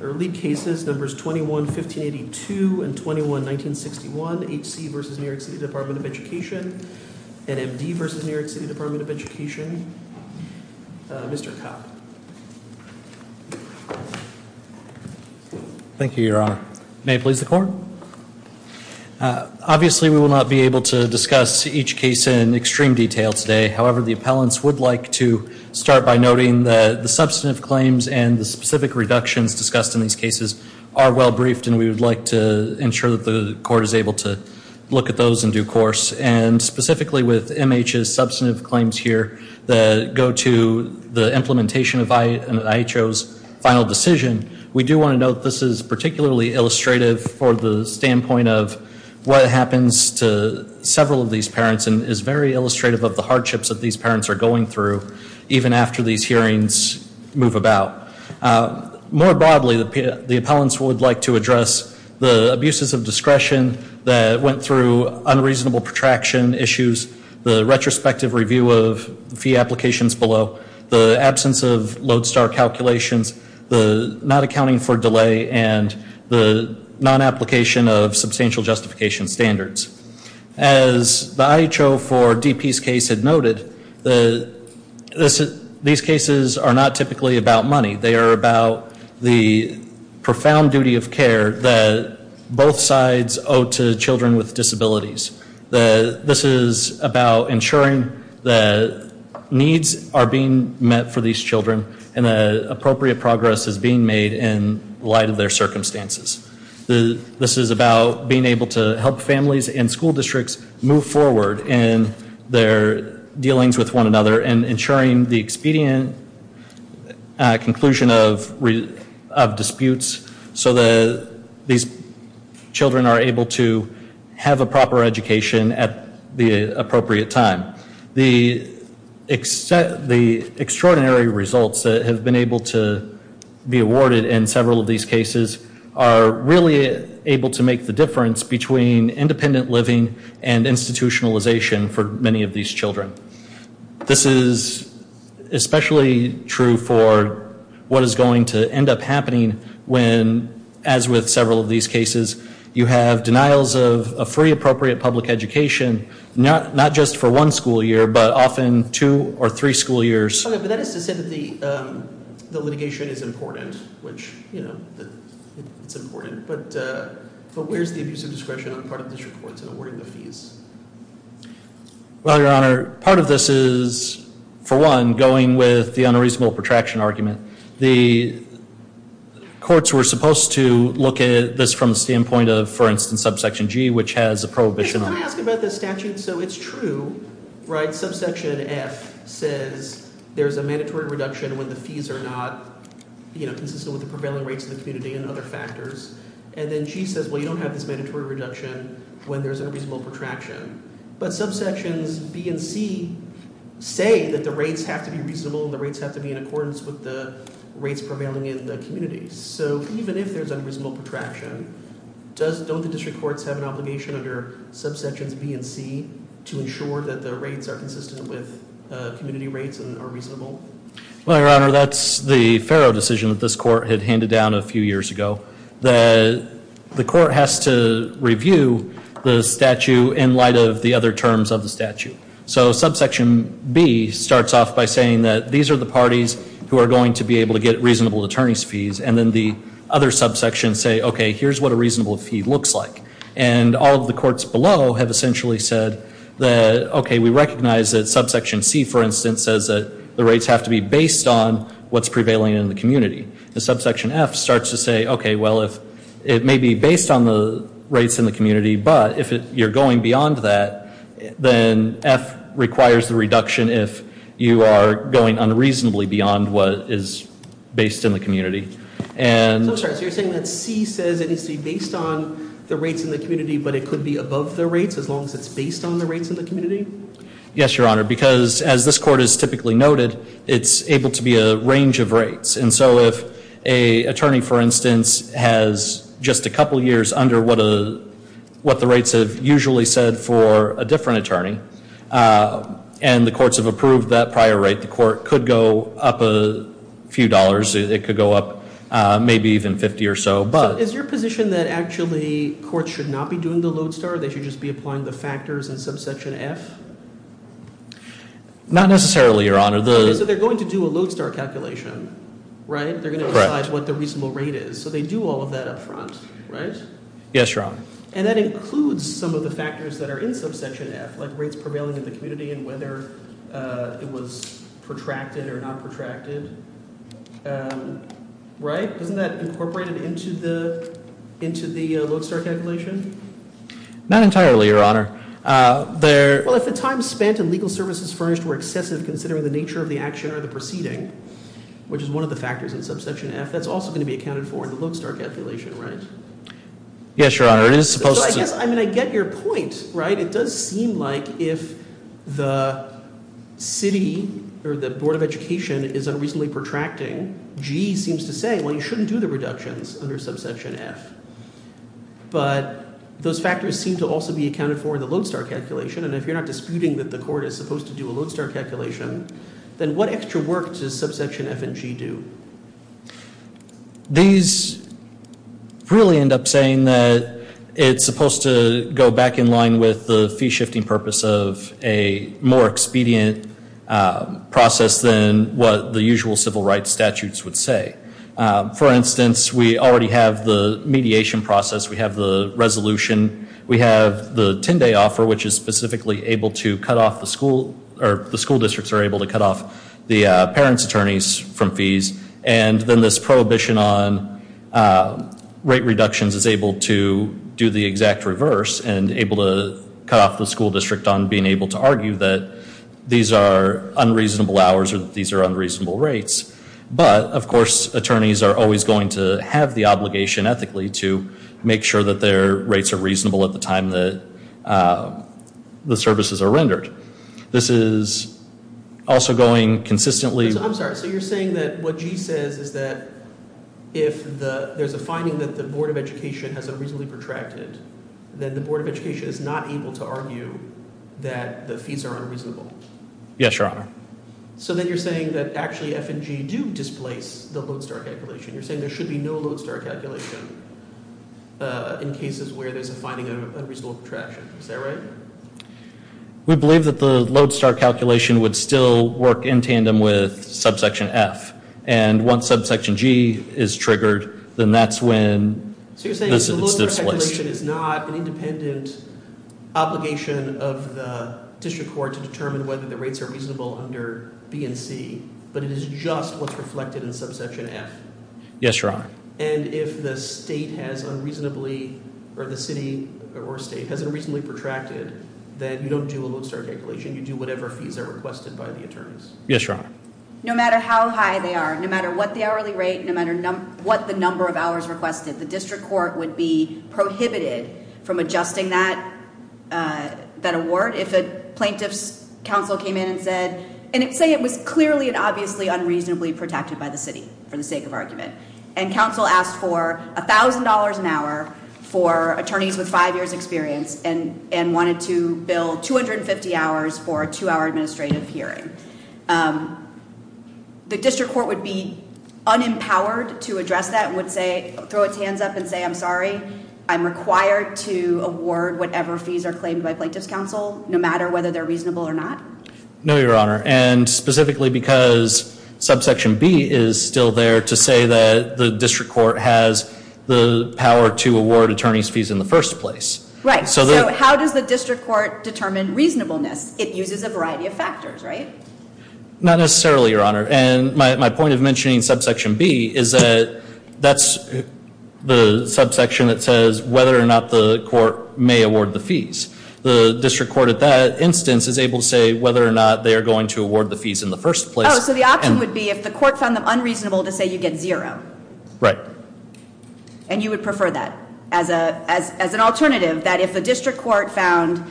Early cases, numbers 21-1582 and 21-1961, H.C. v. New York City Department of Education, NMD v. New York City Department of Education, Mr. Kopp. Thank you, Your Honor. May it please the court. Obviously, we will not be able to discuss each case in extreme detail today. However, the appellants would like to start by noting that the substantive claims and the specific reductions discussed in these cases are well briefed, and we would like to ensure that the court is able to look at those in due course. And specifically with M.H.'s substantive claims here that go to the implementation of IHO's final decision, we do want to note this is particularly illustrative for the standpoint of what happens to several of these parents and is very illustrative of the hardships that these parents are going through even after these hearings move about. More broadly, the appellants would like to address the abuses of discretion that went through unreasonable protraction issues, the retrospective review of fee applications below, the absence of lodestar calculations, the not accounting for delay, and the non-application of substantial justification standards. As the IHO for DP's case had noted, these cases are not typically about money. They are about the profound duty of care that both sides owe to children with disabilities. This is about ensuring that needs are being met for these children and that appropriate progress is being made in light of their circumstances. This is about being able to help families and school districts move forward in their dealings with one another and ensuring the expedient conclusion of disputes so that these children are able to have a proper education at the appropriate time. The extraordinary results that have been able to be awarded in several of these cases are really able to make the difference between independent living and institutionalization for many of these children. This is especially true for what is going to end up happening when, as with several of these cases, you have denials of a free appropriate public education. Not just for one school year, but often two or three school years. But that is to say that the litigation is important, which it's important. But where's the abuse of discretion on the part of the district courts in awarding the fees? Well, your honor, part of this is, for one, going with the unreasonable protraction argument. The courts were supposed to look at this from the standpoint of, for instance, subsection G, which has a prohibition. Can I ask about this statute? So it's true, right? Subsection F says there's a mandatory reduction when the fees are not consistent with the prevailing rates of the community and other factors. And then G says, well, you don't have this mandatory reduction when there's unreasonable protraction. But subsections B and C say that the rates have to be reasonable and the rates have to be in accordance with the rates prevailing in the community. So even if there's unreasonable protraction, don't the district courts have an obligation under subsections B and C to ensure that the rates are consistent with community rates and are reasonable? Well, your honor, that's the Farrow decision that this court had handed down a few years ago. The court has to review the statute in light of the other terms of the statute. So subsection B starts off by saying that these are the parties who are going to be able to get reasonable attorney's fees. And then the other subsections say, okay, here's what a reasonable fee looks like. And all of the courts below have essentially said that, okay, we recognize that subsection C, for instance, says that the rates have to be based on what's prevailing in the community. The subsection F starts to say, okay, well, it may be based on the rates in the community, but if you're going beyond that, then F requires the reduction if you are going unreasonably beyond what is based in the community. I'm sorry, so you're saying that C says it needs to be based on the rates in the community, but it could be above the rates as long as it's based on the rates in the community? Yes, your honor, because as this court has typically noted, it's able to be a range of rates. And so if a attorney, for instance, has just a couple years under what the rates have usually said for a different attorney, and the courts have approved that prior rate, the court could go up a few dollars. It could go up maybe even 50 or so, but- Is your position that actually courts should not be doing the load star? They should just be applying the factors in subsection F? Not necessarily, your honor. So they're going to do a load star calculation, right? They're going to decide what the reasonable rate is. So they do all of that up front, right? Yes, your honor. And that includes some of the factors that are in subsection F, like rates prevailing in the community and whether it was protracted or not protracted, right? Isn't that incorporated into the load star calculation? Not entirely, your honor. Well, if the time spent in legal services furnished were excessive considering the nature of the action or the proceeding, which is one of the factors in subsection F, that's also going to be accounted for in the load star calculation, right? Yes, your honor, it is supposed to- So I guess, I mean, I get your point, right? But it does seem like if the city or the board of education is unreasonably protracting, G seems to say, well, you shouldn't do the reductions under subsection F, but those factors seem to also be accounted for in the load star calculation. And if you're not disputing that the court is supposed to do a load star calculation, then what extra work does subsection F and G do? These really end up saying that it's supposed to go back in line with the fee shifting purpose of a more expedient process than what the usual civil rights statutes would say. For instance, we already have the mediation process. We have the resolution. We have the 10 day offer, which is specifically able to cut off the school, or And then this prohibition on rate reductions is able to do the exact reverse and able to cut off the school district on being able to argue that these are unreasonable hours or these are unreasonable rates. But, of course, attorneys are always going to have the obligation ethically to make sure that their rates are reasonable at the time that the services are rendered. This is also going consistently- I'm sorry, so you're saying that what G says is that if there's a finding that the Board of Education has unreasonably protracted, then the Board of Education is not able to argue that the fees are unreasonable? Yes, your honor. So then you're saying that actually F and G do displace the load star calculation. You're saying there should be no load star calculation in cases where there's a finding of unreasonable protraction. Is that right? We believe that the load star calculation would still work in tandem with subsection F. And once subsection G is triggered, then that's when it's displaced. So you're saying that the load star calculation is not an independent obligation of the district court to determine whether the rates are reasonable under B and C. But it is just what's reflected in subsection F. Yes, your honor. And if the state has unreasonably, or the city or state, has unreasonably protracted, then you don't do a load star calculation, you do whatever fees are requested by the attorneys. Yes, your honor. No matter how high they are, no matter what the hourly rate, no matter what the number of hours requested, the district court would be prohibited from adjusting that award if a plaintiff's council came in and said, and say it was clearly and obviously unreasonably protracted by the city for the sake of argument. And council asked for $1,000 an hour for attorneys with five years experience and wanted to bill 250 hours for a two hour administrative hearing. The district court would be unempowered to address that and would say, throw its hands up and say, I'm sorry. I'm required to award whatever fees are claimed by plaintiff's council, no matter whether they're reasonable or not. No, your honor, and specifically because subsection B is still there to say that the district court has the power to award attorney's fees in the first place. Right, so how does the district court determine reasonableness? It uses a variety of factors, right? Not necessarily, your honor. And my point of mentioning subsection B is that that's the subsection that says whether or not the court may award the fees. The district court at that instance is able to say whether or not they are going to award the fees in the first place. So the option would be if the court found them unreasonable to say you get zero. Right. And you would prefer that as an alternative, that if the district court found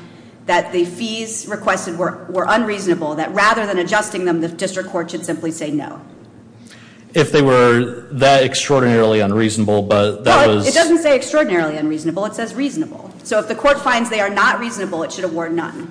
that the fees requested were unreasonable. That rather than adjusting them, the district court should simply say no. If they were that extraordinarily unreasonable, but that was- It doesn't say extraordinarily unreasonable, it says reasonable. So if the court finds they are not reasonable, it should award none.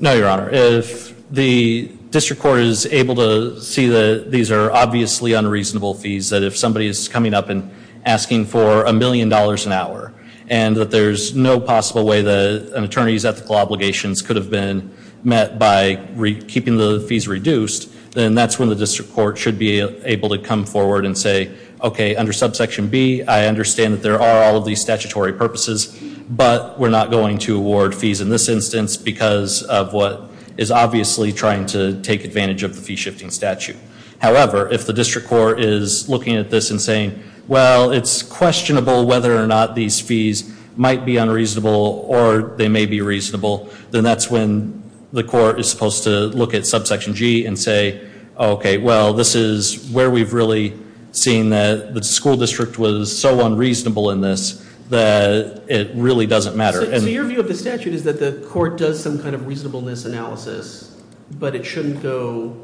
No, your honor. If the district court is able to see that these are obviously unreasonable fees, that if somebody is coming up and asking for a million dollars an hour. And that there's no possible way that an attorney's ethical obligations could have been met by keeping the fees reduced. Then that's when the district court should be able to come forward and say, okay, under subsection B, I understand that there are all of these statutory purposes, but we're not going to award fees in this instance. Because of what is obviously trying to take advantage of the fee shifting statute. However, if the district court is looking at this and saying, well, it's questionable whether or not these fees might be unreasonable or they may be reasonable. Then that's when the court is supposed to look at subsection G and say, okay, well, this is where we've really seen that the school district was so unreasonable in this that it really doesn't matter. And- So your view of the statute is that the court does some kind of reasonableness analysis, but it shouldn't go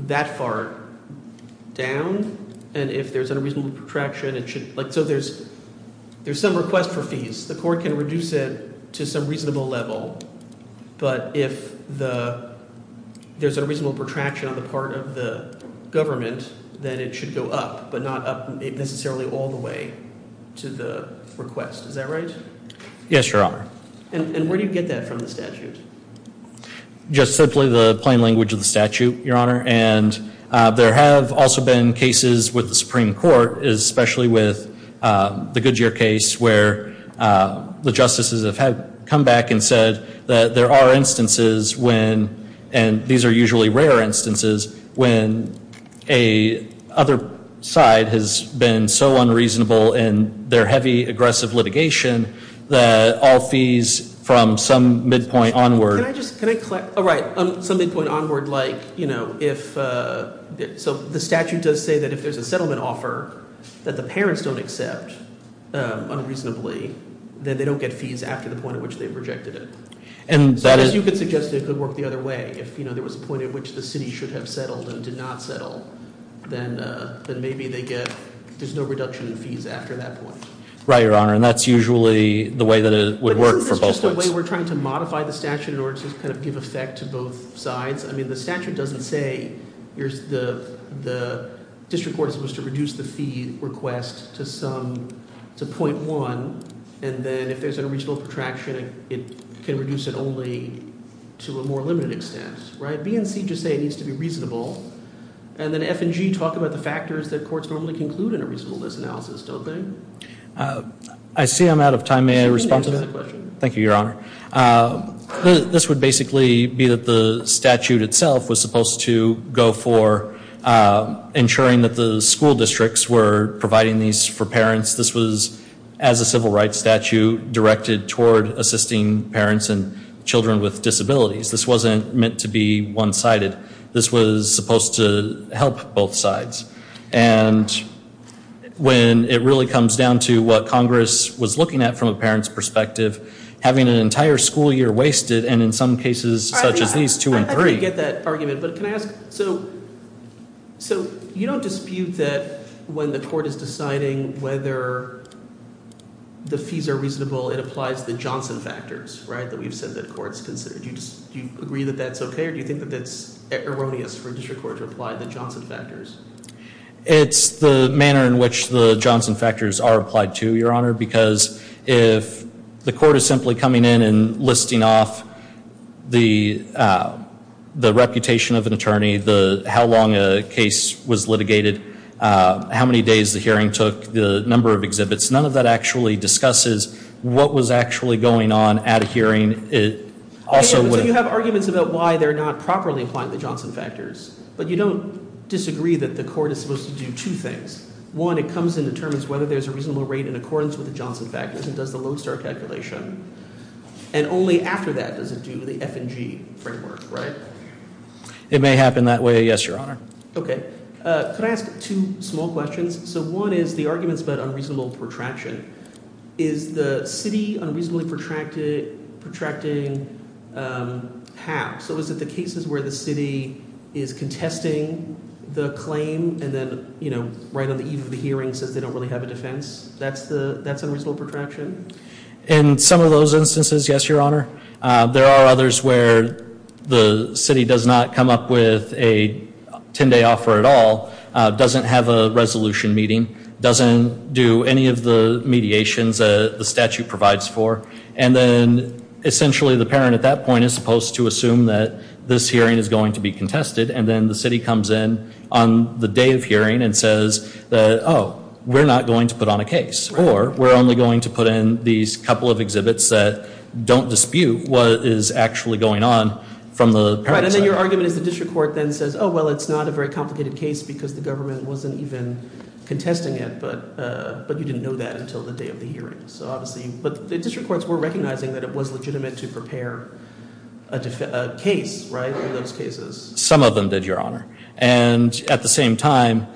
that far down. And if there's unreasonable protraction, it should, so there's some request for fees. The court can reduce it to some reasonable level. But if there's a reasonable protraction on the part of the government, then it should go up, but not up necessarily all the way to the request. Is that right? Yes, your honor. And where do you get that from the statute? Just simply the plain language of the statute, your honor. And there have also been cases with the Supreme Court, especially with the Goodyear case, where the justices have come back and there are instances when, and these are usually rare instances, when a other side has been so unreasonable in their heavy, aggressive litigation that all fees from some midpoint onward- Can I just, can I clarify? Right, some midpoint onward like if, so the statute does say that if there's a settlement offer that the parents don't accept unreasonably, then they don't get fees after the point at which they've rejected it. And so as you could suggest, it could work the other way. If there was a point at which the city should have settled and did not settle, then maybe they get, there's no reduction in fees after that point. Right, your honor, and that's usually the way that it would work for both of us. But isn't this just a way we're trying to modify the statute in order to kind of give effect to both sides? I mean, the statute doesn't say, the district court is supposed to reduce the fee request to some, to 0.1, and then if there's a reasonable protraction, it can reduce it only to a more limited extent, right? BNC just say it needs to be reasonable, and then FNG talk about the factors that courts normally conclude in a reasonableness analysis, don't they? I see I'm out of time, may I respond to that? Thank you, your honor. This would basically be that the statute itself was supposed to go for ensuring that the school districts were providing these for parents. This was, as a civil rights statute, directed toward assisting parents and children with disabilities. This wasn't meant to be one-sided. This was supposed to help both sides. And when it really comes down to what Congress was looking at from a parent's perspective, having an entire school year wasted, and in some cases, such as these two and three- So, you don't dispute that when the court is deciding whether the fees are reasonable, it applies the Johnson factors, right, that we've said that courts consider. Do you agree that that's okay, or do you think that that's erroneous for a district court to apply the Johnson factors? It's the manner in which the Johnson factors are applied to, your honor, because if the court is simply coming in and listing off the reputation of an attorney, how long a case was litigated, how many days the hearing took, the number of exhibits, none of that actually discusses what was actually going on at a hearing. It also would- So you have arguments about why they're not properly applying the Johnson factors. But you don't disagree that the court is supposed to do two things. One, it comes and determines whether there's a reasonable rate in accordance with the Johnson factors and does the Lone Star calculation. And only after that does it do the F and G framework, right? It may happen that way, yes, your honor. Okay. Could I ask two small questions? So one is the arguments about unreasonable protraction. Is the city unreasonably protracting half? So is it the cases where the city is contesting the claim and then right on the eve of the hearing says they don't really have a defense, that's unreasonable protraction? In some of those instances, yes, your honor. There are others where the city does not come up with a ten day offer at all, doesn't have a resolution meeting, doesn't do any of the mediations the statute provides for. And then essentially the parent at that point is supposed to assume that this hearing is going to be contested. And then the city comes in on the day of hearing and says, we're not going to put on a case. Or we're only going to put in these couple of exhibits that don't dispute what is actually going on from the parent's side. Right, and then your argument is the district court then says, well, it's not a very complicated case because the government wasn't even contesting it. But you didn't know that until the day of the hearing. So obviously, but the district courts were recognizing that it was legitimate to prepare a case, right, for those cases. Some of them did, your honor. And at the same time,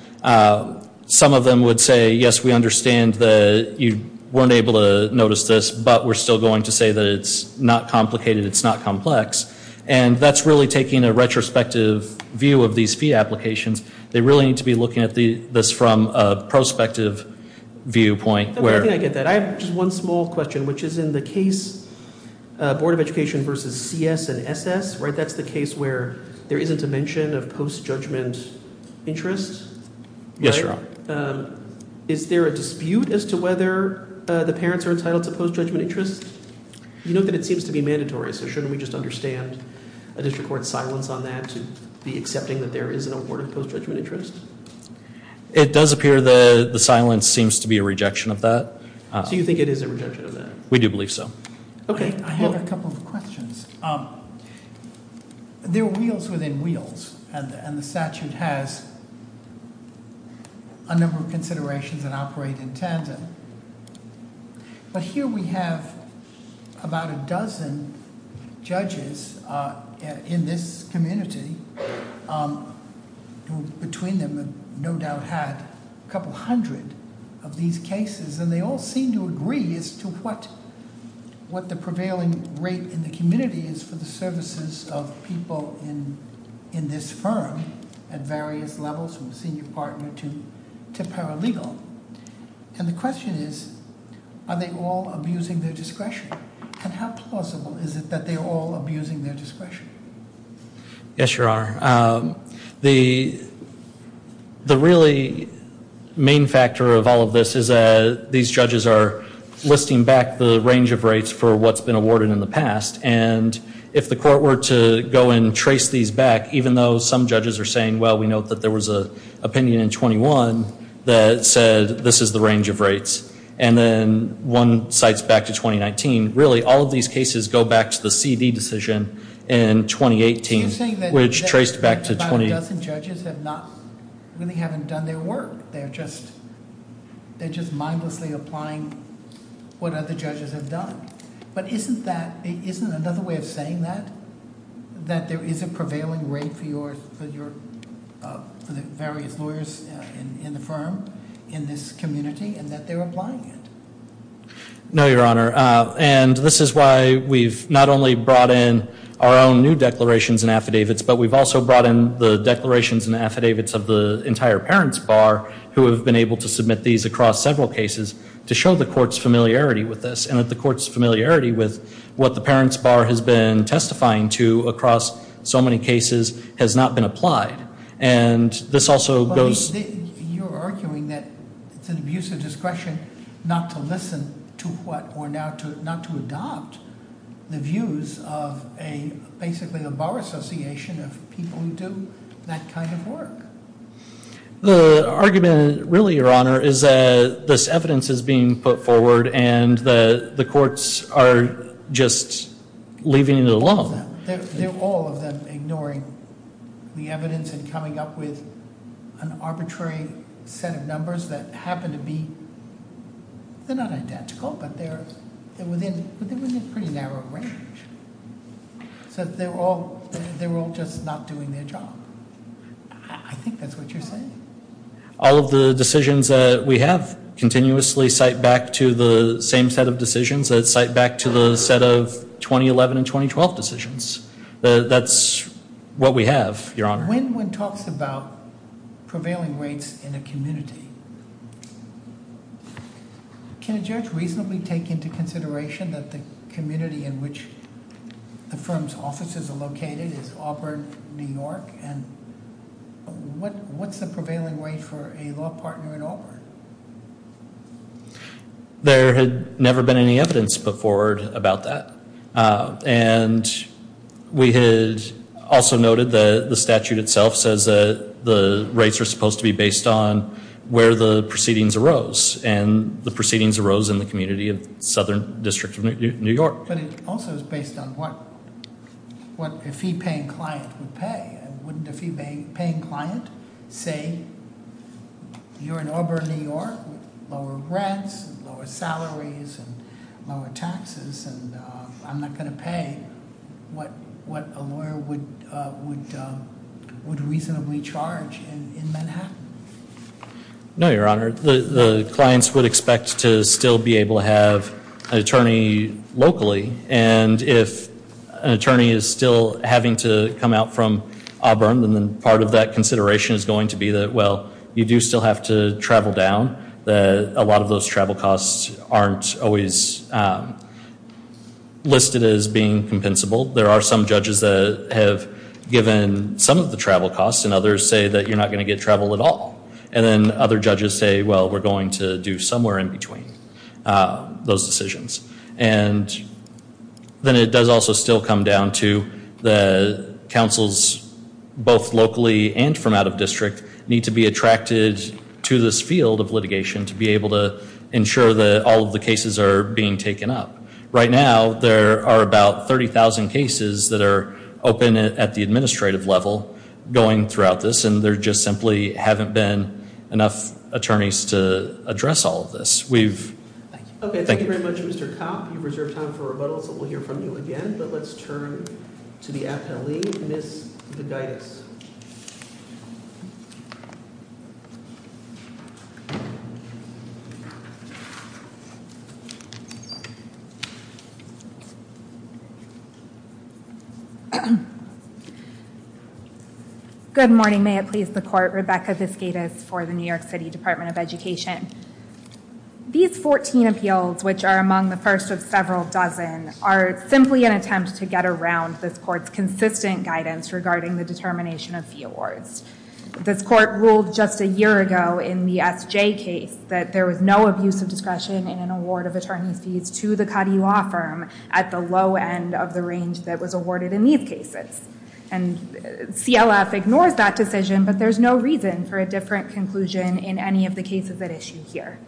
some of them would say, yes, we understand that you weren't able to notice this, but we're still going to say that it's not complicated, it's not complex. And that's really taking a retrospective view of these fee applications. They really need to be looking at this from a prospective viewpoint where- I think I get that. I have just one small question, which is in the case, Board of Education versus CS and SS, right? Post-judgment interest? Yes, your honor. Is there a dispute as to whether the parents are entitled to post-judgment interest? You note that it seems to be mandatory, so shouldn't we just understand a district court's silence on that to be accepting that there is an award of post-judgment interest? It does appear that the silence seems to be a rejection of that. So you think it is a rejection of that? We do believe so. Okay. I have a couple of questions. There are wheels within wheels, and the statute has a number of considerations that operate in tandem. But here we have about a dozen judges in this community. Between them, no doubt had a couple hundred of these cases, and they all seem to agree as to what the prevailing rate in the community is for the services of people in this firm at various levels, from senior partner to paralegal. And the question is, are they all abusing their discretion? And how plausible is it that they're all abusing their discretion? Yes, your honor. The really main factor of all of this is that these judges are listing back the range of rates for what's been awarded in the past. And if the court were to go and trace these back, even though some judges are saying, well, we know that there was an opinion in 21 that said this is the range of rates. And then one cites back to 2019. Really, all of these cases go back to the CD decision in 2018, which traced back to 20- A dozen judges have not, really haven't done their work. They're just mindlessly applying what other judges have done. But isn't that, isn't another way of saying that, that there is a prevailing rate for your, for the various lawyers in the firm, in this community, and that they're applying it? No, your honor. And this is why we've not only brought in our own new declarations and affidavits, but we've also brought in the declarations and affidavits of the entire parents bar, who have been able to submit these across several cases to show the court's familiarity with this. And that the court's familiarity with what the parents bar has been testifying to across so many cases has not been applied. And this also goes- Not to listen to what, or not to adopt the views of a, basically, a bar association of people who do that kind of work. The argument, really, your honor, is that this evidence is being put forward and that the courts are just leaving it alone. They're all of them ignoring the evidence and coming up with an arbitrary set of numbers that happen to be they're not identical, but they're within a pretty narrow range. So they're all just not doing their job. I think that's what you're saying. All of the decisions that we have continuously cite back to the same set of decisions that cite back to the set of 2011 and 2012 decisions. That's what we have, your honor. When one talks about prevailing rates in a community, can a judge reasonably take into consideration that the community in which the firm's offices are located is Auburn, New York? And what's the prevailing rate for a law partner in Auburn? There had never been any evidence put forward about that. And we had also noted that the statute itself says that the rates are supposed to be based on where the proceedings arose. And the proceedings arose in the community of Southern District of New York. But it also is based on what a fee-paying client would pay. Wouldn't a fee-paying client say, you're in Auburn, New York, lower rents, lower salaries, and lower taxes, and I'm not going to pay what a lawyer would reasonably charge in Manhattan? No, your honor. The clients would expect to still be able to have an attorney locally. And if an attorney is still having to come out from Auburn, then part of that consideration is going to be that, well, you do still have to travel down. A lot of those travel costs aren't always listed as being compensable. There are some judges that have given some of the travel costs, and others say that you're not going to get travel at all. And then other judges say, well, we're going to do somewhere in between those decisions. And then it does also still come down to the councils, both locally and from out of district, need to be attracted to this field of litigation to be able to ensure that all of the cases are being taken up. Right now, there are about 30,000 cases that are open at the administrative level going throughout this. And there just simply haven't been enough attorneys to address all of this. We've- Okay, thank you very much, Mr. Kopp. You've reserved time for rebuttal, so we'll hear from you again. But let's turn to the appellee, Ms. Vidaitis. Good morning, may it please the court. Rebecca Viskaitis for the New York City Department of Education. These 14 appeals, which are among the first of several dozen, are simply an attempt to get around this court's consistent guidance regarding the determination of fee awards. This court ruled just a year ago in the SJ case that there was no abuse of discretion in an award of attorney's fees to the Cuddy Law Firm at the low end of the range that was awarded in these cases. And CLF ignores that decision, but there's no reason for a different conclusion in any of the cases at issue here.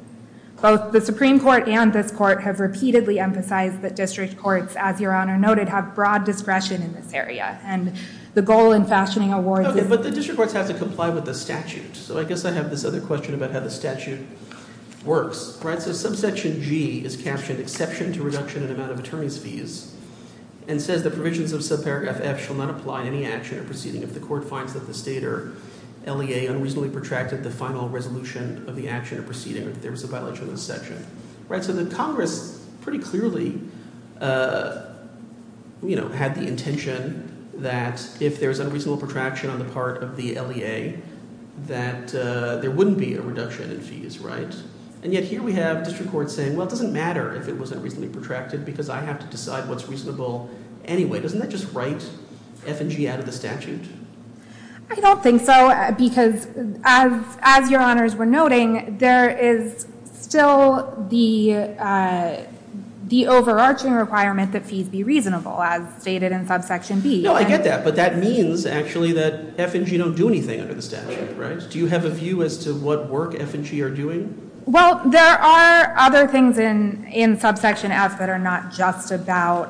Both the Supreme Court and this court have repeatedly emphasized that district courts, as your Honor noted, have broad discretion in this area. And the goal in fashioning awards is- Okay, but the district courts have to comply with the statute. So I guess I have this other question about how the statute works, right? So subsection G is captioned, exception to reduction in amount of attorney's fees, and says the provisions of subparagraph F shall not apply to any action or proceeding if the court finds that the state or LEA unreasonably protracted the final resolution of the action or proceeding, or if there was a violation of the section. So the Congress pretty clearly had the intention that if there was unreasonable protraction on the part of the LEA, that there wouldn't be a reduction in fees, right? And yet here we have district courts saying, well, it doesn't matter if it was unreasonably protracted because I have to decide what's reasonable anyway. Doesn't that just write F and G out of the statute? I don't think so, because as your honors were noting, there is still the overarching requirement that fees be reasonable, as stated in subsection B. No, I get that, but that means actually that F and G don't do anything under the statute, right? Do you have a view as to what work F and G are doing? Well, there are other things in subsection F that are not just about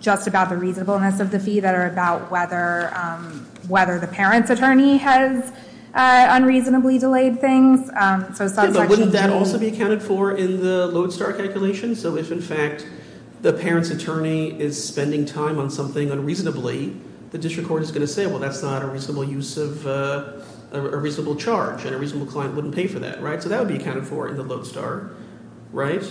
the reasonableness of the fee that are about whether the parent's attorney has unreasonably delayed things. But wouldn't that also be accounted for in the Lodestar calculation? So if, in fact, the parent's attorney is spending time on something unreasonably, the district court is going to say, well, that's not a reasonable charge, and a reasonable client wouldn't pay for that, right? So that would be accounted for in the Lodestar, right?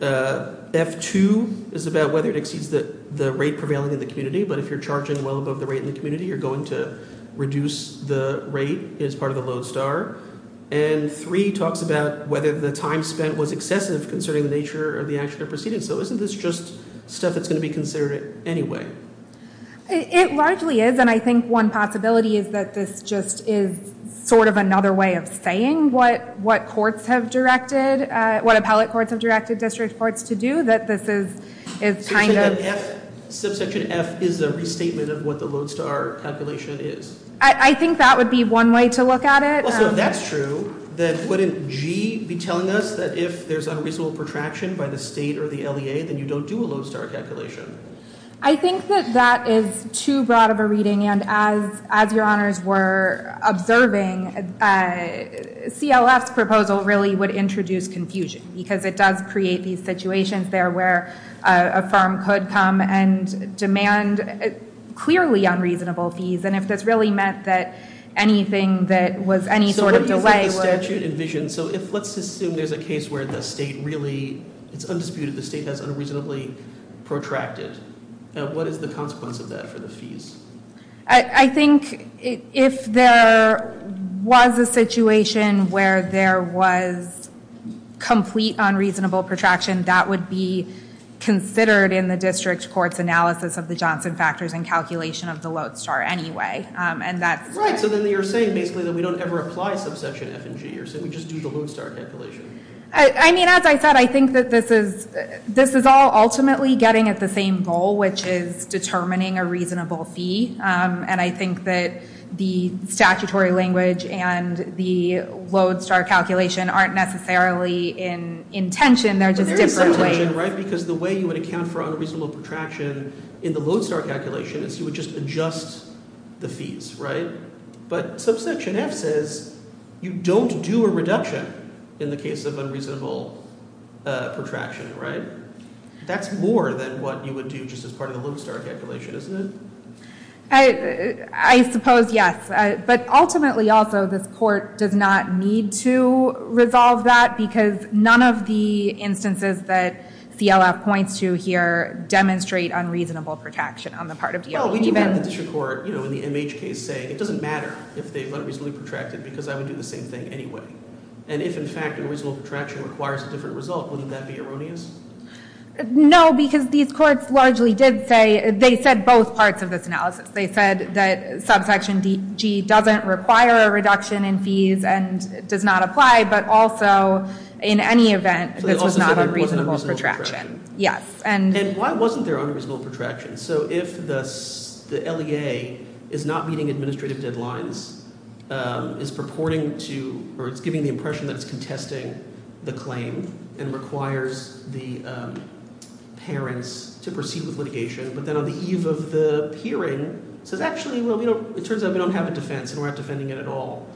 F2 is about whether it exceeds the rate prevailing in the community, but if you're charging well above the rate in the community, you're going to reduce the rate as part of the Lodestar. And 3 talks about whether the time spent was excessive concerning the nature of the action or proceedings. So isn't this just stuff that's going to be considered anyway? It largely is, and I think one possibility is that this just is sort of another way of saying what courts have directed, what appellate courts have directed district courts to do, Subsection F is a restatement of what the Lodestar calculation is. I think that would be one way to look at it. Also, if that's true, then wouldn't G be telling us that if there's unreasonable protraction by the state or the LEA, then you don't do a Lodestar calculation? I think that that is too broad of a reading, and as your honors were observing, CLF's proposal really would introduce confusion because it does create these situations there where a firm could come and demand clearly unreasonable fees, and if this really meant that anything that was any sort of delay was- So what do you think the statute envisions? So let's assume there's a case where the state really, it's undisputed, the state has unreasonably protracted. What is the consequence of that for the fees? I think if there was a situation where there was complete unreasonable protraction, that would be considered in the district court's analysis of the Johnson factors and calculation of the Lodestar anyway, and that's- Right, so then you're saying basically that we don't ever apply Subsection F and G, you're saying we just do the Lodestar calculation. I mean, as I said, I think that this is all ultimately getting at the same goal, which is determining a reasonable fee, and I think that the statutory language and the Lodestar calculation aren't necessarily in tension, they're just different ways. But there is some tension, right, because the way you would account for unreasonable protraction in the Lodestar calculation is you would just adjust the fees, right? But Subsection F says you don't do a reduction in the case of unreasonable protraction, right? That's more than what you would do just as part of the Lodestar calculation, isn't it? I suppose yes, but ultimately also this court does not need to resolve that because none of the instances that CLF points to here demonstrate unreasonable protraction on the part of DOD. Well, we do have the district court, you know, in the MH case saying it doesn't matter if they've unreasonably protracted because I would do the same thing anyway. And if, in fact, unreasonable protraction requires a different result, wouldn't that be erroneous? No, because these courts largely did say they said both parts of this analysis. They said that Subsection G doesn't require a reduction in fees and does not apply, but also in any event this was not unreasonable protraction. So they also said there wasn't unreasonable protraction. Yes. And why wasn't there unreasonable protraction? So if the LEA is not meeting administrative deadlines, is purporting to or it's giving the impression that it's contesting the claim and requires the parents to proceed with litigation, but then on the eve of the hearing says, actually, well, it turns out we don't have a defense and we're not defending it at all,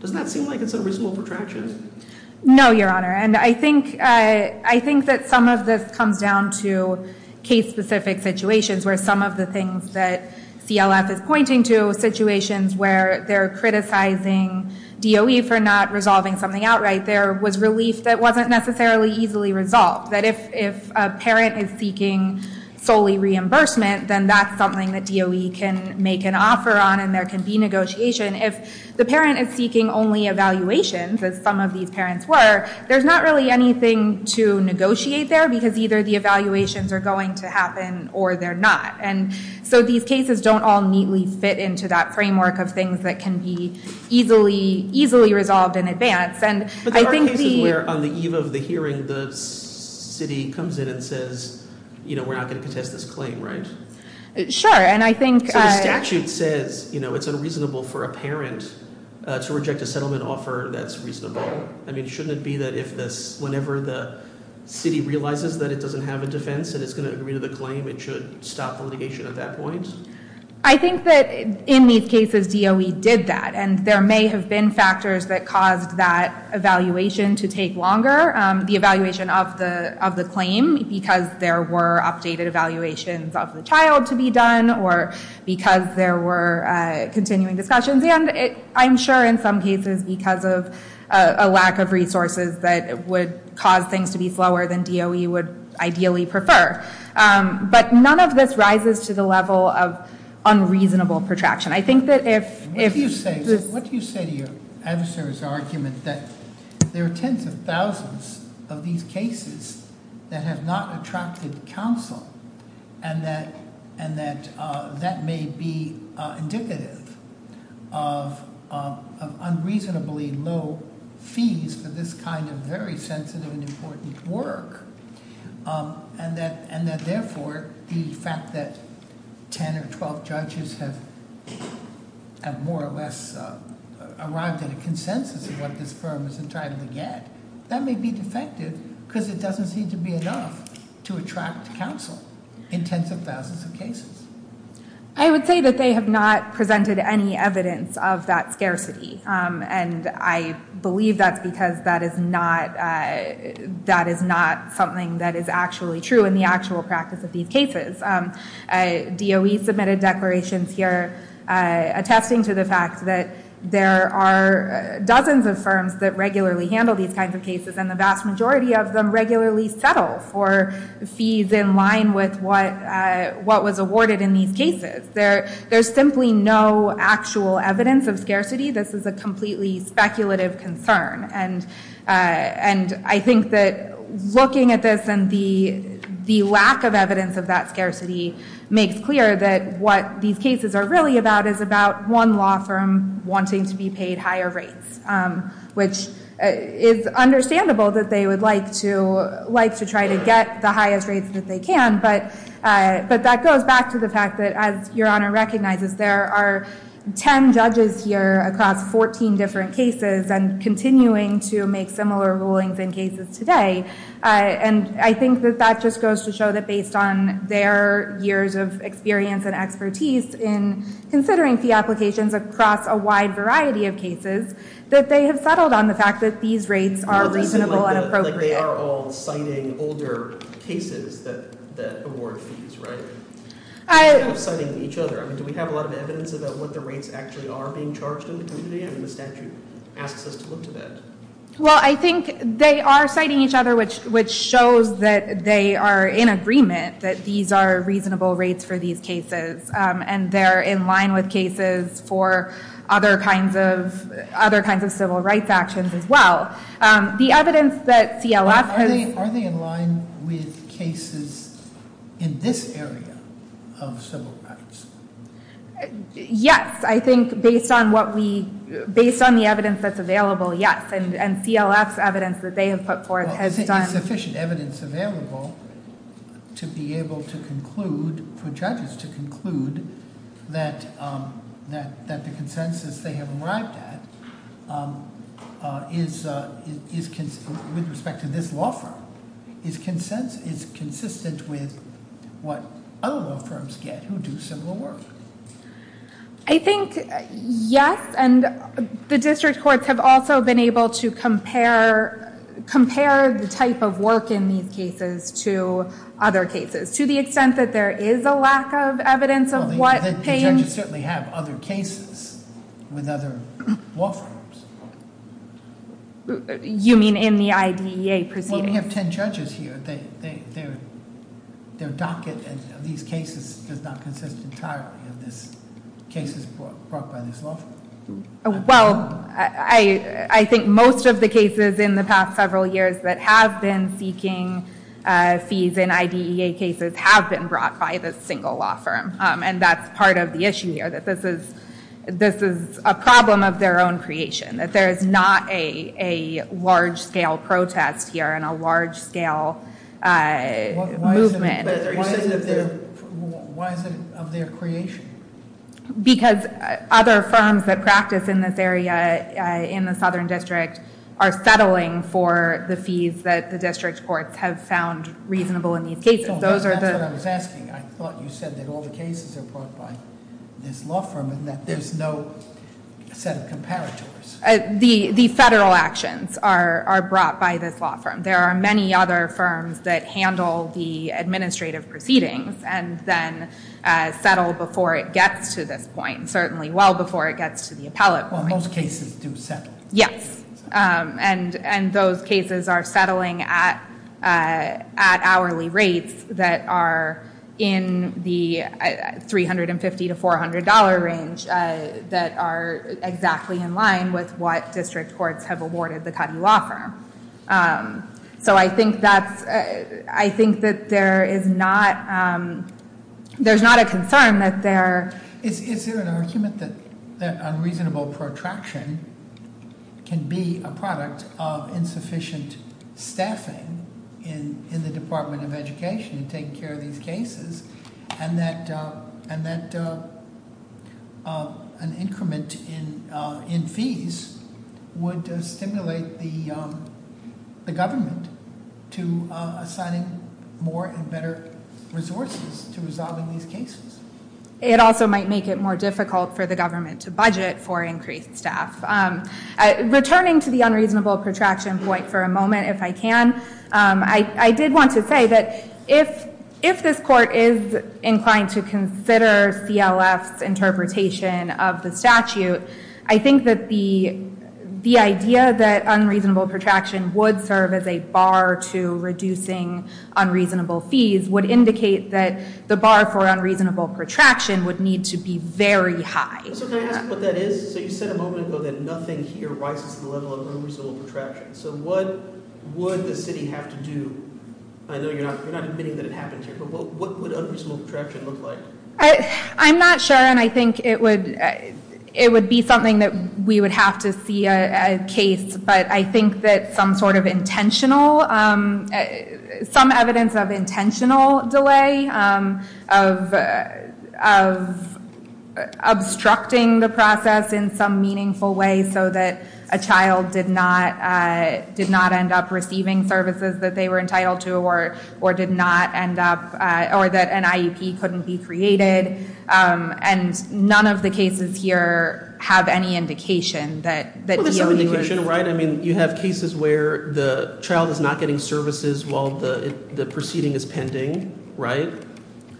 doesn't that seem like it's unreasonable protraction? No, Your Honor. And I think that some of this comes down to case-specific situations where some of the things that CLF is pointing to, situations where they're criticizing DOE for not resolving something outright, there was relief that wasn't necessarily easily resolved. That if a parent is seeking solely reimbursement, then that's something that DOE can make an offer on and there can be negotiation. If the parent is seeking only evaluations, as some of these parents were, there's not really anything to negotiate there because either the evaluations are going to happen or they're not. And so these cases don't all neatly fit into that framework of things that can be easily resolved in advance. But there are cases where on the eve of the hearing the city comes in and says, you know, we're not going to contest this claim, right? Sure. So the statute says, you know, it's unreasonable for a parent to reject a settlement offer that's reasonable. I mean, shouldn't it be that whenever the city realizes that it doesn't have a defense and it's going to agree to the claim, it should stop litigation at that point? I think that in these cases DOE did that. And there may have been factors that caused that evaluation to take longer, the evaluation of the claim because there were updated evaluations of the child to be done or because there were continuing discussions. And I'm sure in some cases because of a lack of resources that would cause things to be slower than DOE would ideally prefer. But none of this rises to the level of unreasonable protraction. I think that if- What do you say to your adversary's argument that there are tens of thousands of these cases that have not attracted counsel and that that may be indicative of unreasonably low fees for this kind of very sensitive and important work and that therefore the fact that 10 or 12 judges have more or less arrived at a consensus of what this firm is entitled to get, that may be defective because it doesn't seem to be enough to attract counsel in tens of thousands of cases. I would say that they have not presented any evidence of that scarcity. And I believe that's because that is not something that is actually true in the actual practice of these cases. DOE submitted declarations here attesting to the fact that there are dozens of firms that regularly handle these kinds of cases and the vast majority of them regularly settle for fees in line with what was awarded in these cases. There's simply no actual evidence of scarcity. This is a completely speculative concern. And I think that looking at this and the lack of evidence of that scarcity makes clear that what these cases are really about is about one law firm wanting to be paid higher rates, which is understandable that they would like to try to get the highest rates that they can. But that goes back to the fact that, as Your Honor recognizes, there are 10 judges here across 14 different cases and continuing to make similar rulings in cases today. And I think that that just goes to show that based on their years of experience and expertise in considering fee applications across a wide variety of cases that they have settled on the fact that these rates are reasonable and appropriate. It sounds like they are all citing older cases that award fees, right? They're all citing each other. I mean, do we have a lot of evidence about what the rates actually are being charged in the community? I mean, the statute asks us to look to that. Well, I think they are citing each other, which shows that they are in agreement that these are reasonable rates for these cases. And they're in line with cases for other kinds of civil rights actions as well. The evidence that CLF has- Are they in line with cases in this area of civil rights? Yes. I think based on the evidence that's available, yes. And CLF's evidence that they have put forth has done- Well, is sufficient evidence available to be able to conclude, for judges to conclude, that the consensus they have arrived at is, with respect to this law firm, is consistent with what other law firms get who do similar work? I think, yes. And the district courts have also been able to compare the type of work in these cases to other cases, to the extent that there is a lack of evidence of- Well, the judges certainly have other cases with other law firms. You mean in the IDEA proceedings? Well, we have ten judges here. Their docket of these cases does not consist entirely of cases brought by this law firm. Well, I think most of the cases in the past several years that have been seeking fees in IDEA cases have been brought by this single law firm, and that's part of the issue here, that this is a problem of their own creation, that there is not a large-scale protest here and a large-scale movement. Why is it of their creation? Because other firms that practice in this area in the Southern District are settling for the fees that the district courts have found reasonable in these cases. That's what I was asking. I thought you said that all the cases are brought by this law firm and that there's no set of comparators. The federal actions are brought by this law firm. There are many other firms that handle the administrative proceedings and then settle before it gets to this point, certainly well before it gets to the appellate point. Well, most cases do settle. Yes. And those cases are settling at hourly rates that are in the $350 to $400 range that are exactly in line with what district courts have awarded the Cuddy Law Firm. So I think that there is not a concern that there— Is there an argument that unreasonable protraction can be a product of insufficient staffing in the Department of Education in taking care of these cases and that an increment in fees would stimulate the government to assigning more and better resources to resolving these cases? It also might make it more difficult for the government to budget for increased staff. Returning to the unreasonable protraction point for a moment, if I can, I did want to say that if this court is inclined to consider CLF's interpretation of the statute, I think that the idea that unreasonable protraction would serve as a bar to reducing unreasonable fees would indicate that the bar for unreasonable protraction would need to be very high. So can I ask what that is? So you said a moment ago that nothing here rises to the level of unreasonable protraction. So what would the city have to do—I know you're not admitting that it happens here, but what would unreasonable protraction look like? I'm not sure, and I think it would be something that we would have to see a case, but I think that some sort of intentional—some evidence of intentional delay, of obstructing the process in some meaningful way so that a child did not end up receiving services that they were entitled to or did not end up—or that an IEP couldn't be created. And none of the cases here have any indication that— Well, there's some indication, right? I mean, you have cases where the child is not getting services while the proceeding is pending, right?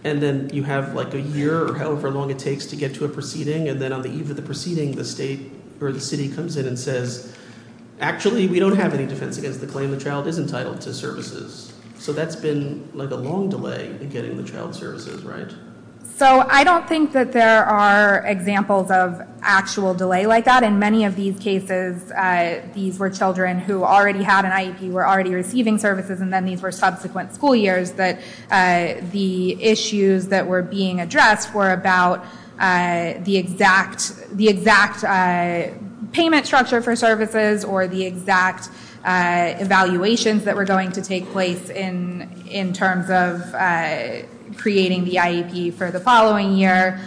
And then you have, like, a year or however long it takes to get to a proceeding, and then on the eve of the proceeding, the state or the city comes in and says, actually, we don't have any defense against the claim the child is entitled to services. So that's been, like, a long delay in getting the child services, right? So I don't think that there are examples of actual delay like that. Not in many of these cases. These were children who already had an IEP, were already receiving services, and then these were subsequent school years that the issues that were being addressed were about the exact payment structure for services or the exact evaluations that were going to take place in terms of creating the IEP for the following year.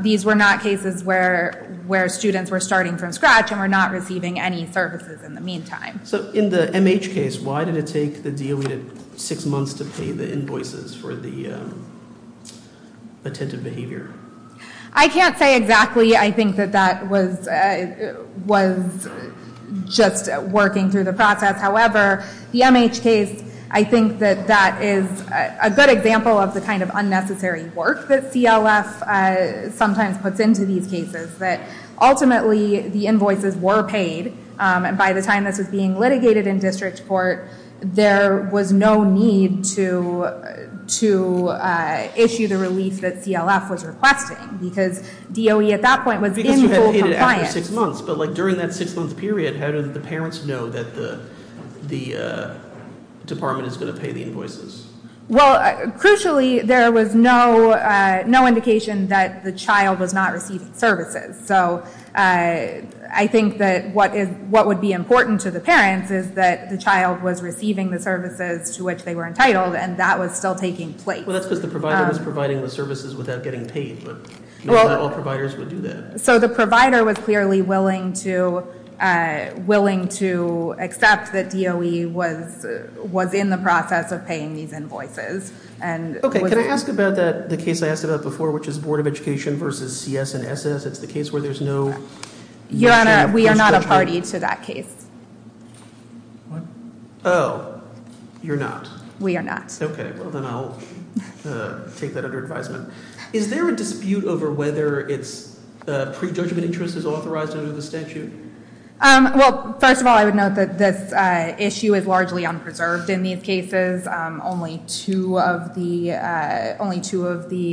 These were not cases where students were starting from scratch and were not receiving any services in the meantime. So in the MH case, why did it take the DOE six months to pay the invoices for the attentive behavior? I can't say exactly. I think that that was just working through the process. However, the MH case, I think that that is a good example of the kind of unnecessary work that CLF sometimes puts into these cases. Ultimately, the invoices were paid. By the time this was being litigated in district court, there was no need to issue the relief that CLF was requesting because DOE at that point was in full compliance. But during that six-month period, how did the parents know that the department is going to pay the invoices? Well, crucially, there was no indication that the child was not receiving services. So I think that what would be important to the parents is that the child was receiving the services to which they were entitled, and that was still taking place. Well, that's because the provider was providing the services without getting paid, but not all providers would do that. So the provider was clearly willing to accept that DOE was in the process of paying these invoices. Okay. Can I ask about the case I asked about before, which is Board of Education versus CS and SS? It's the case where there's no- Your Honor, we are not a party to that case. Oh, you're not? We are not. Okay. Well, then I'll take that under advisement. Is there a dispute over whether prejudgment interest is authorized under the statute? Well, first of all, I would note that this issue is largely unpreserved in these cases. Only two of the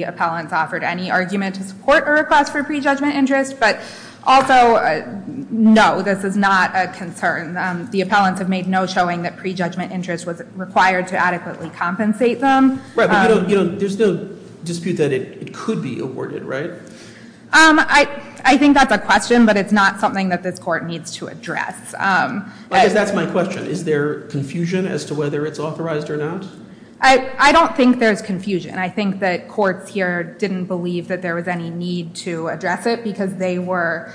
appellants offered any argument to support a request for prejudgment interest. But also, no, this is not a concern. The appellants have made no showing that prejudgment interest was required to adequately compensate them. Right. But there's no dispute that it could be awarded, right? I think that's a question, but it's not something that this court needs to address. Because that's my question. Is there confusion as to whether it's authorized or not? I don't think there's confusion. I think that courts here didn't believe that there was any need to address it because they were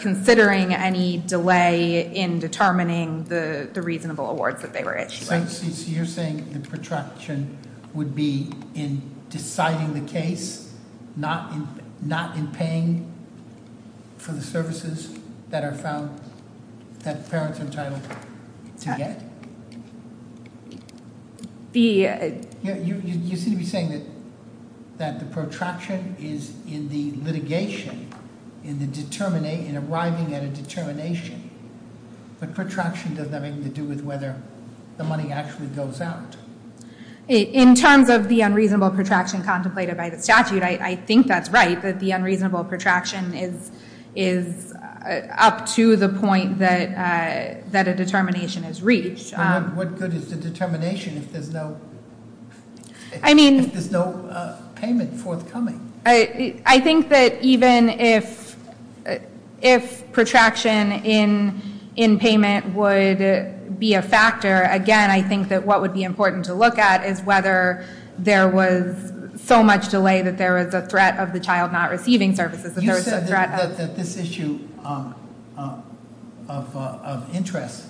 considering any delay in determining the reasonable awards that they were issuing. So you're saying the protraction would be in deciding the case, not in paying for the services that parents are entitled to get? You seem to be saying that the protraction is in the litigation, in arriving at a determination. But protraction doesn't have anything to do with whether the money actually goes out. In terms of the unreasonable protraction contemplated by the statute, I think that's right, that the unreasonable protraction is up to the point that a determination is reached. What good is the determination if there's no payment forthcoming? I think that even if protraction in payment would be a factor, again, I think that what would be important to look at is whether there was so much delay that there was a threat of the child not receiving services, that there was a threat- You said that this issue of interest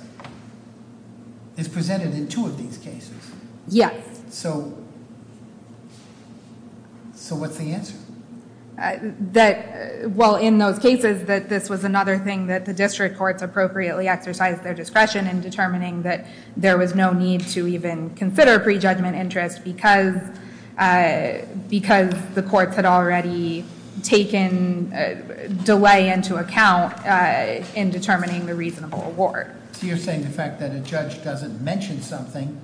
is presented in two of these cases. Yes. So what's the answer? Well, in those cases, that this was another thing that the district courts appropriately exercised their discretion in determining that there was no need to even consider prejudgment interest because the courts had already taken delay into account in determining the reasonable award. So you're saying the fact that a judge doesn't mention something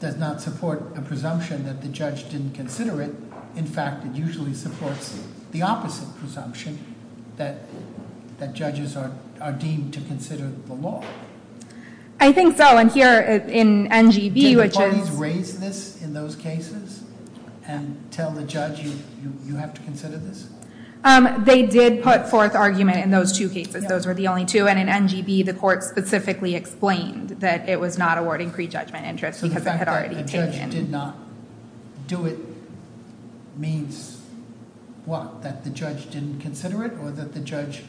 does not support a presumption that the judge didn't consider it. In fact, it usually supports the opposite presumption that judges are deemed to consider the law. I think so, and here in NGB, which is- Did the parties raise this in those cases and tell the judge you have to consider this? They did put forth argument in those two cases. Those were the only two, and in NGB, the court specifically explained that it was not awarding prejudgment interest because it had already taken- So the fact that the judge did not do it means what? That the judge didn't consider it or that the judge-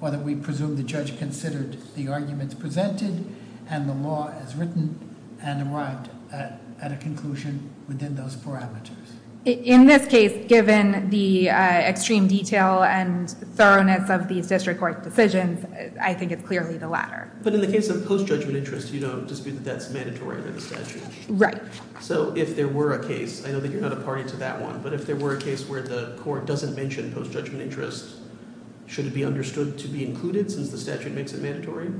Or that we presume the judge considered the arguments presented and the law as written and arrived at a conclusion within those parameters. In this case, given the extreme detail and thoroughness of these district court decisions, I think it's clearly the latter. But in the case of post-judgment interest, you don't dispute that that's mandatory under the statute. Right. So if there were a case, I know that you're not a party to that one, but if there were a case where the court doesn't mention post-judgment interest, should it be understood to be included since the statute makes it mandatory?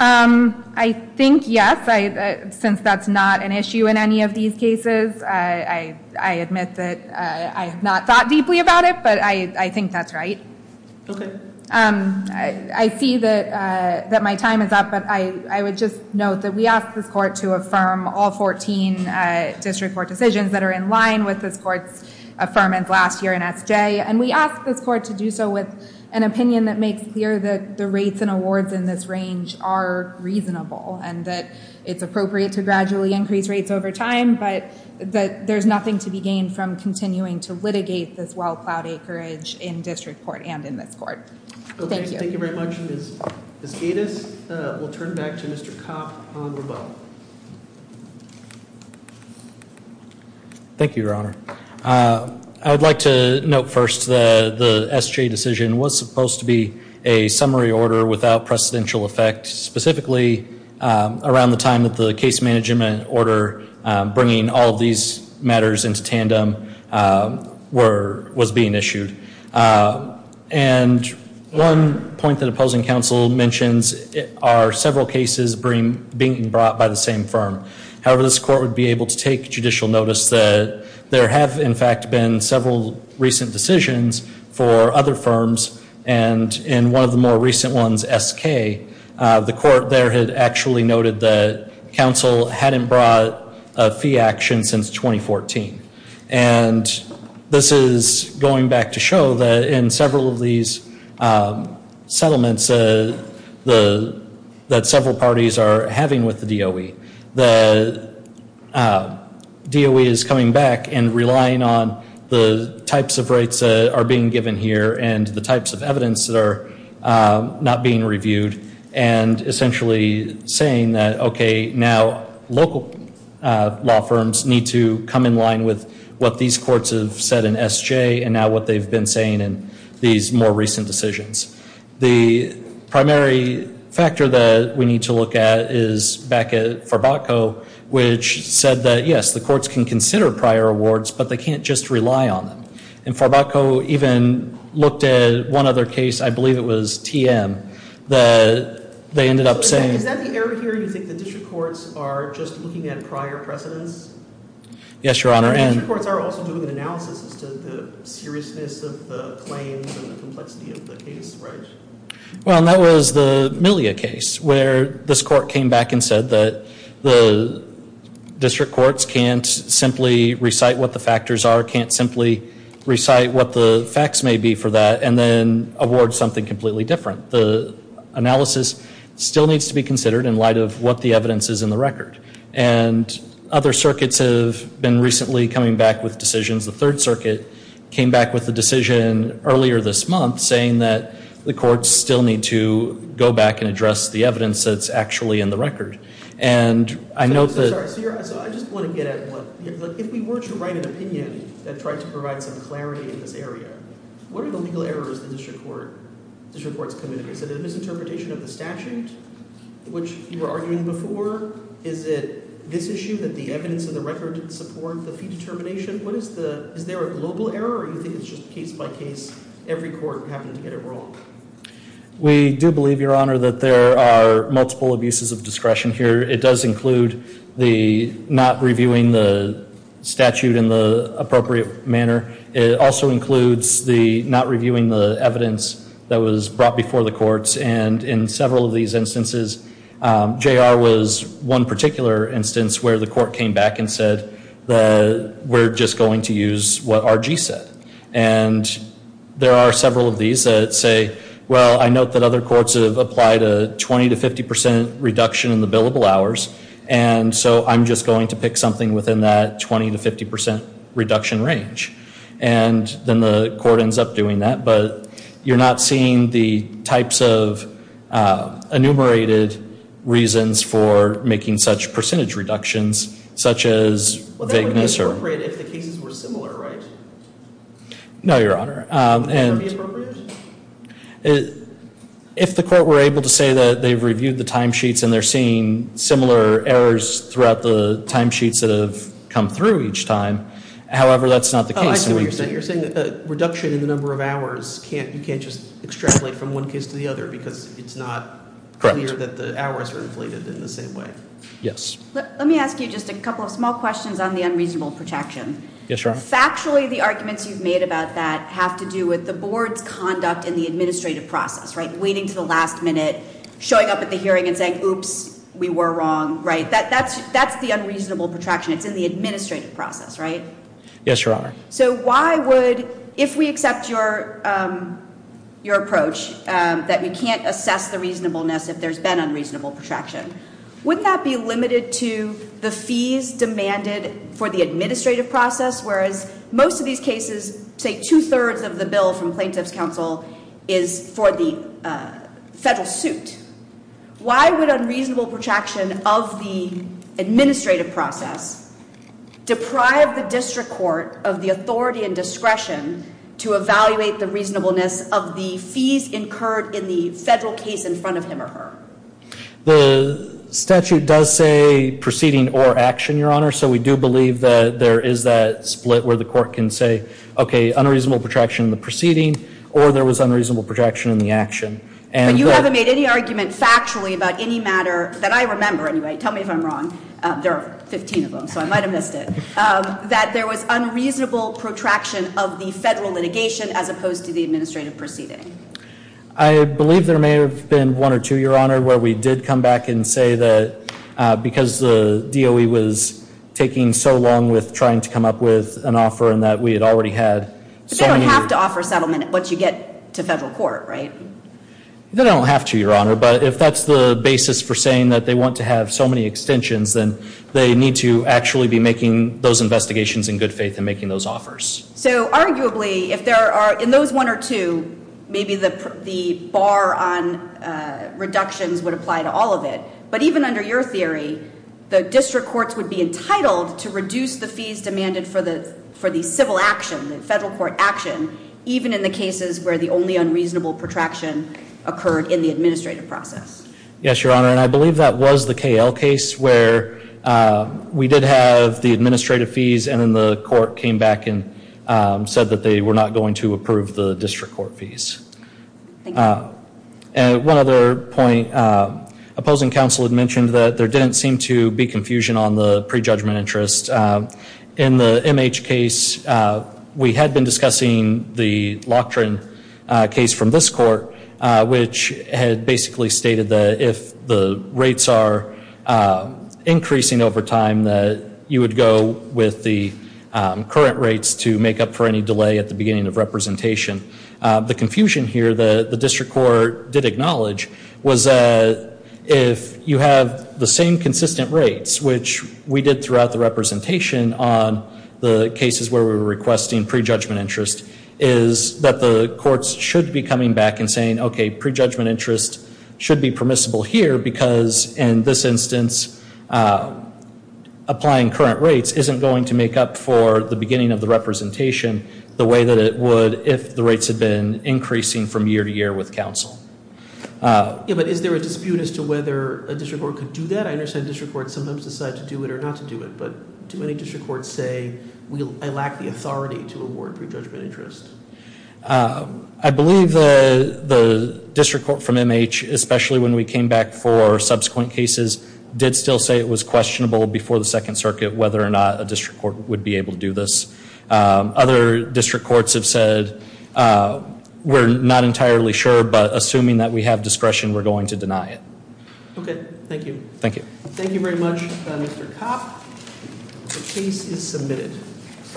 I think yes, since that's not an issue in any of these cases. I admit that I have not thought deeply about it, but I think that's right. Okay. I see that my time is up, but I would just note that we asked this court to affirm all 14 district court decisions that are in line with this court's affirmance last year in SJ. And we asked this court to do so with an opinion that makes clear that the rates and awards in this range are reasonable and that it's appropriate to gradually increase rates over time, but that there's nothing to be gained from continuing to litigate this well-plowed acreage in district court and in this court. Thank you. Thank you very much, Ms. Gatiss. We'll turn back to Mr. Kopp on rebuttal. Thank you, Your Honor. I would like to note first that the SJ decision was supposed to be a summary order without precedential effect, specifically around the time that the case management order bringing all these matters into tandem was being issued. And one point that opposing counsel mentions are several cases being brought by the same firm. However, this court would be able to take judicial notice that there have, in fact, been several recent decisions for other firms. And in one of the more recent ones, SK, the court there had actually noted that counsel hadn't brought a fee action since 2014. And this is going back to show that in several of these settlements that several parties are having with the DOE, the DOE is coming back and relying on the types of rates that are being given here and the types of evidence that are not being reviewed and essentially saying that, okay, now local law firms need to come in line with what these courts have said in SJ and now what they've been saying in these more recent decisions. The primary factor that we need to look at is back at Farbacko, which said that, yes, the courts can consider prior awards, but they can't just rely on them. And Farbacko even looked at one other case. I believe it was TM. They ended up saying- Is that the area here you think the district courts are just looking at prior precedence? Yes, Your Honor. And the district courts are also doing an analysis as to the seriousness of the claims and the complexity of the case, right? Well, and that was the Millia case where this court came back and said that the district courts can't simply recite what the factors are, can't simply recite what the facts may be for that, and then award something completely different. The analysis still needs to be considered in light of what the evidence is in the record. And other circuits have been recently coming back with decisions. The Third Circuit came back with a decision earlier this month saying that the courts still need to go back and address the evidence that's actually in the record. So I just want to get at one. If we were to write an opinion that tried to provide some clarity in this area, what are the legal errors the district courts committed? Is it a misinterpretation of the statute, which you were arguing before? Is it this issue that the evidence in the record didn't support the fee determination? Is there a global error, or do you think it's just case by case, every court having to get it wrong? We do believe, Your Honor, that there are multiple abuses of discretion here. It does include the not reviewing the statute in the appropriate manner. It also includes the not reviewing the evidence that was brought before the courts. And in several of these instances, J.R. was one particular instance where the court came back and said that we're just going to use what R.G. said. And there are several of these that say, well, I note that other courts have applied a 20% to 50% reduction in the billable hours. And so I'm just going to pick something within that 20% to 50% reduction range. And then the court ends up doing that. But you're not seeing the types of enumerated reasons for making such percentage reductions, such as vagueness. It would be appropriate if the cases were similar, right? No, Your Honor. Would that be appropriate? If the court were able to say that they've reviewed the timesheets and they're seeing similar errors throughout the timesheets that have come through each time. However, that's not the case. Oh, I see what you're saying. You're saying a reduction in the number of hours, you can't just extrapolate from one case to the other because it's not clear that the hours are inflated in the same way. Yes. Let me ask you just a couple of small questions on the unreasonable protraction. Yes, Your Honor. Factually, the arguments you've made about that have to do with the board's conduct in the administrative process, right? Waiting to the last minute, showing up at the hearing and saying, oops, we were wrong, right? That's the unreasonable protraction. It's in the administrative process, right? Yes, Your Honor. So why would, if we accept your approach that you can't assess the reasonableness if there's been unreasonable protraction, wouldn't that be limited to the fees demanded for the administrative process? Whereas most of these cases, say two-thirds of the bill from plaintiff's counsel is for the federal suit. Why would unreasonable protraction of the administrative process deprive the district court of the authority and discretion to evaluate the reasonableness of the fees incurred in the federal case in front of him or her? The statute does say proceeding or action, Your Honor, so we do believe that there is that split where the court can say, okay, unreasonable protraction in the proceeding or there was unreasonable protraction in the action. But you haven't made any argument factually about any matter that I remember anyway. Tell me if I'm wrong. There are 15 of them, so I might have missed it. That there was unreasonable protraction of the federal litigation as opposed to the administrative proceeding. I believe there may have been one or two, Your Honor, where we did come back and say that because the DOE was taking so long with trying to come up with an offer and that we had already had. But they don't have to offer settlement once you get to federal court, right? They don't have to, Your Honor, but if that's the basis for saying that they want to have so many extensions, then they need to actually be making those investigations in good faith and making those offers. So arguably, if there are, in those one or two, maybe the bar on reductions would apply to all of it. But even under your theory, the district courts would be entitled to reduce the fees demanded for the civil action, the federal court action, even in the cases where the only unreasonable protraction occurred in the administrative process. Yes, Your Honor, and I believe that was the KL case where we did have the administrative fees and then the court came back and said that they were not going to approve the district court fees. Thank you. One other point, opposing counsel had mentioned that there didn't seem to be confusion on the prejudgment interest. In the MH case, we had been discussing the Loughran case from this court, which had basically stated that if the rates are increasing over time, that you would go with the current rates to make up for any delay at the beginning of representation. The confusion here, the district court did acknowledge, was that if you have the same consistent rates, which we did throughout the representation on the cases where we were requesting prejudgment interest, is that the courts should be coming back and saying, OK, prejudgment interest should be permissible here because in this instance, applying current rates isn't going to make up for the beginning of the representation the way that it would if the rates had been increasing from year to year with counsel. Yeah, but is there a dispute as to whether a district court could do that? I understand district courts sometimes decide to do it or not to do it, but too many district courts say, I lack the authority to award prejudgment interest. I believe the district court from MH, especially when we came back for subsequent cases, did still say it was questionable before the Second Circuit whether or not a district court would be able to do this. Other district courts have said, we're not entirely sure, but assuming that we have discretion, we're going to deny it. OK, thank you. Thank you. Thank you very much, Mr. Kopp. The case is submitted.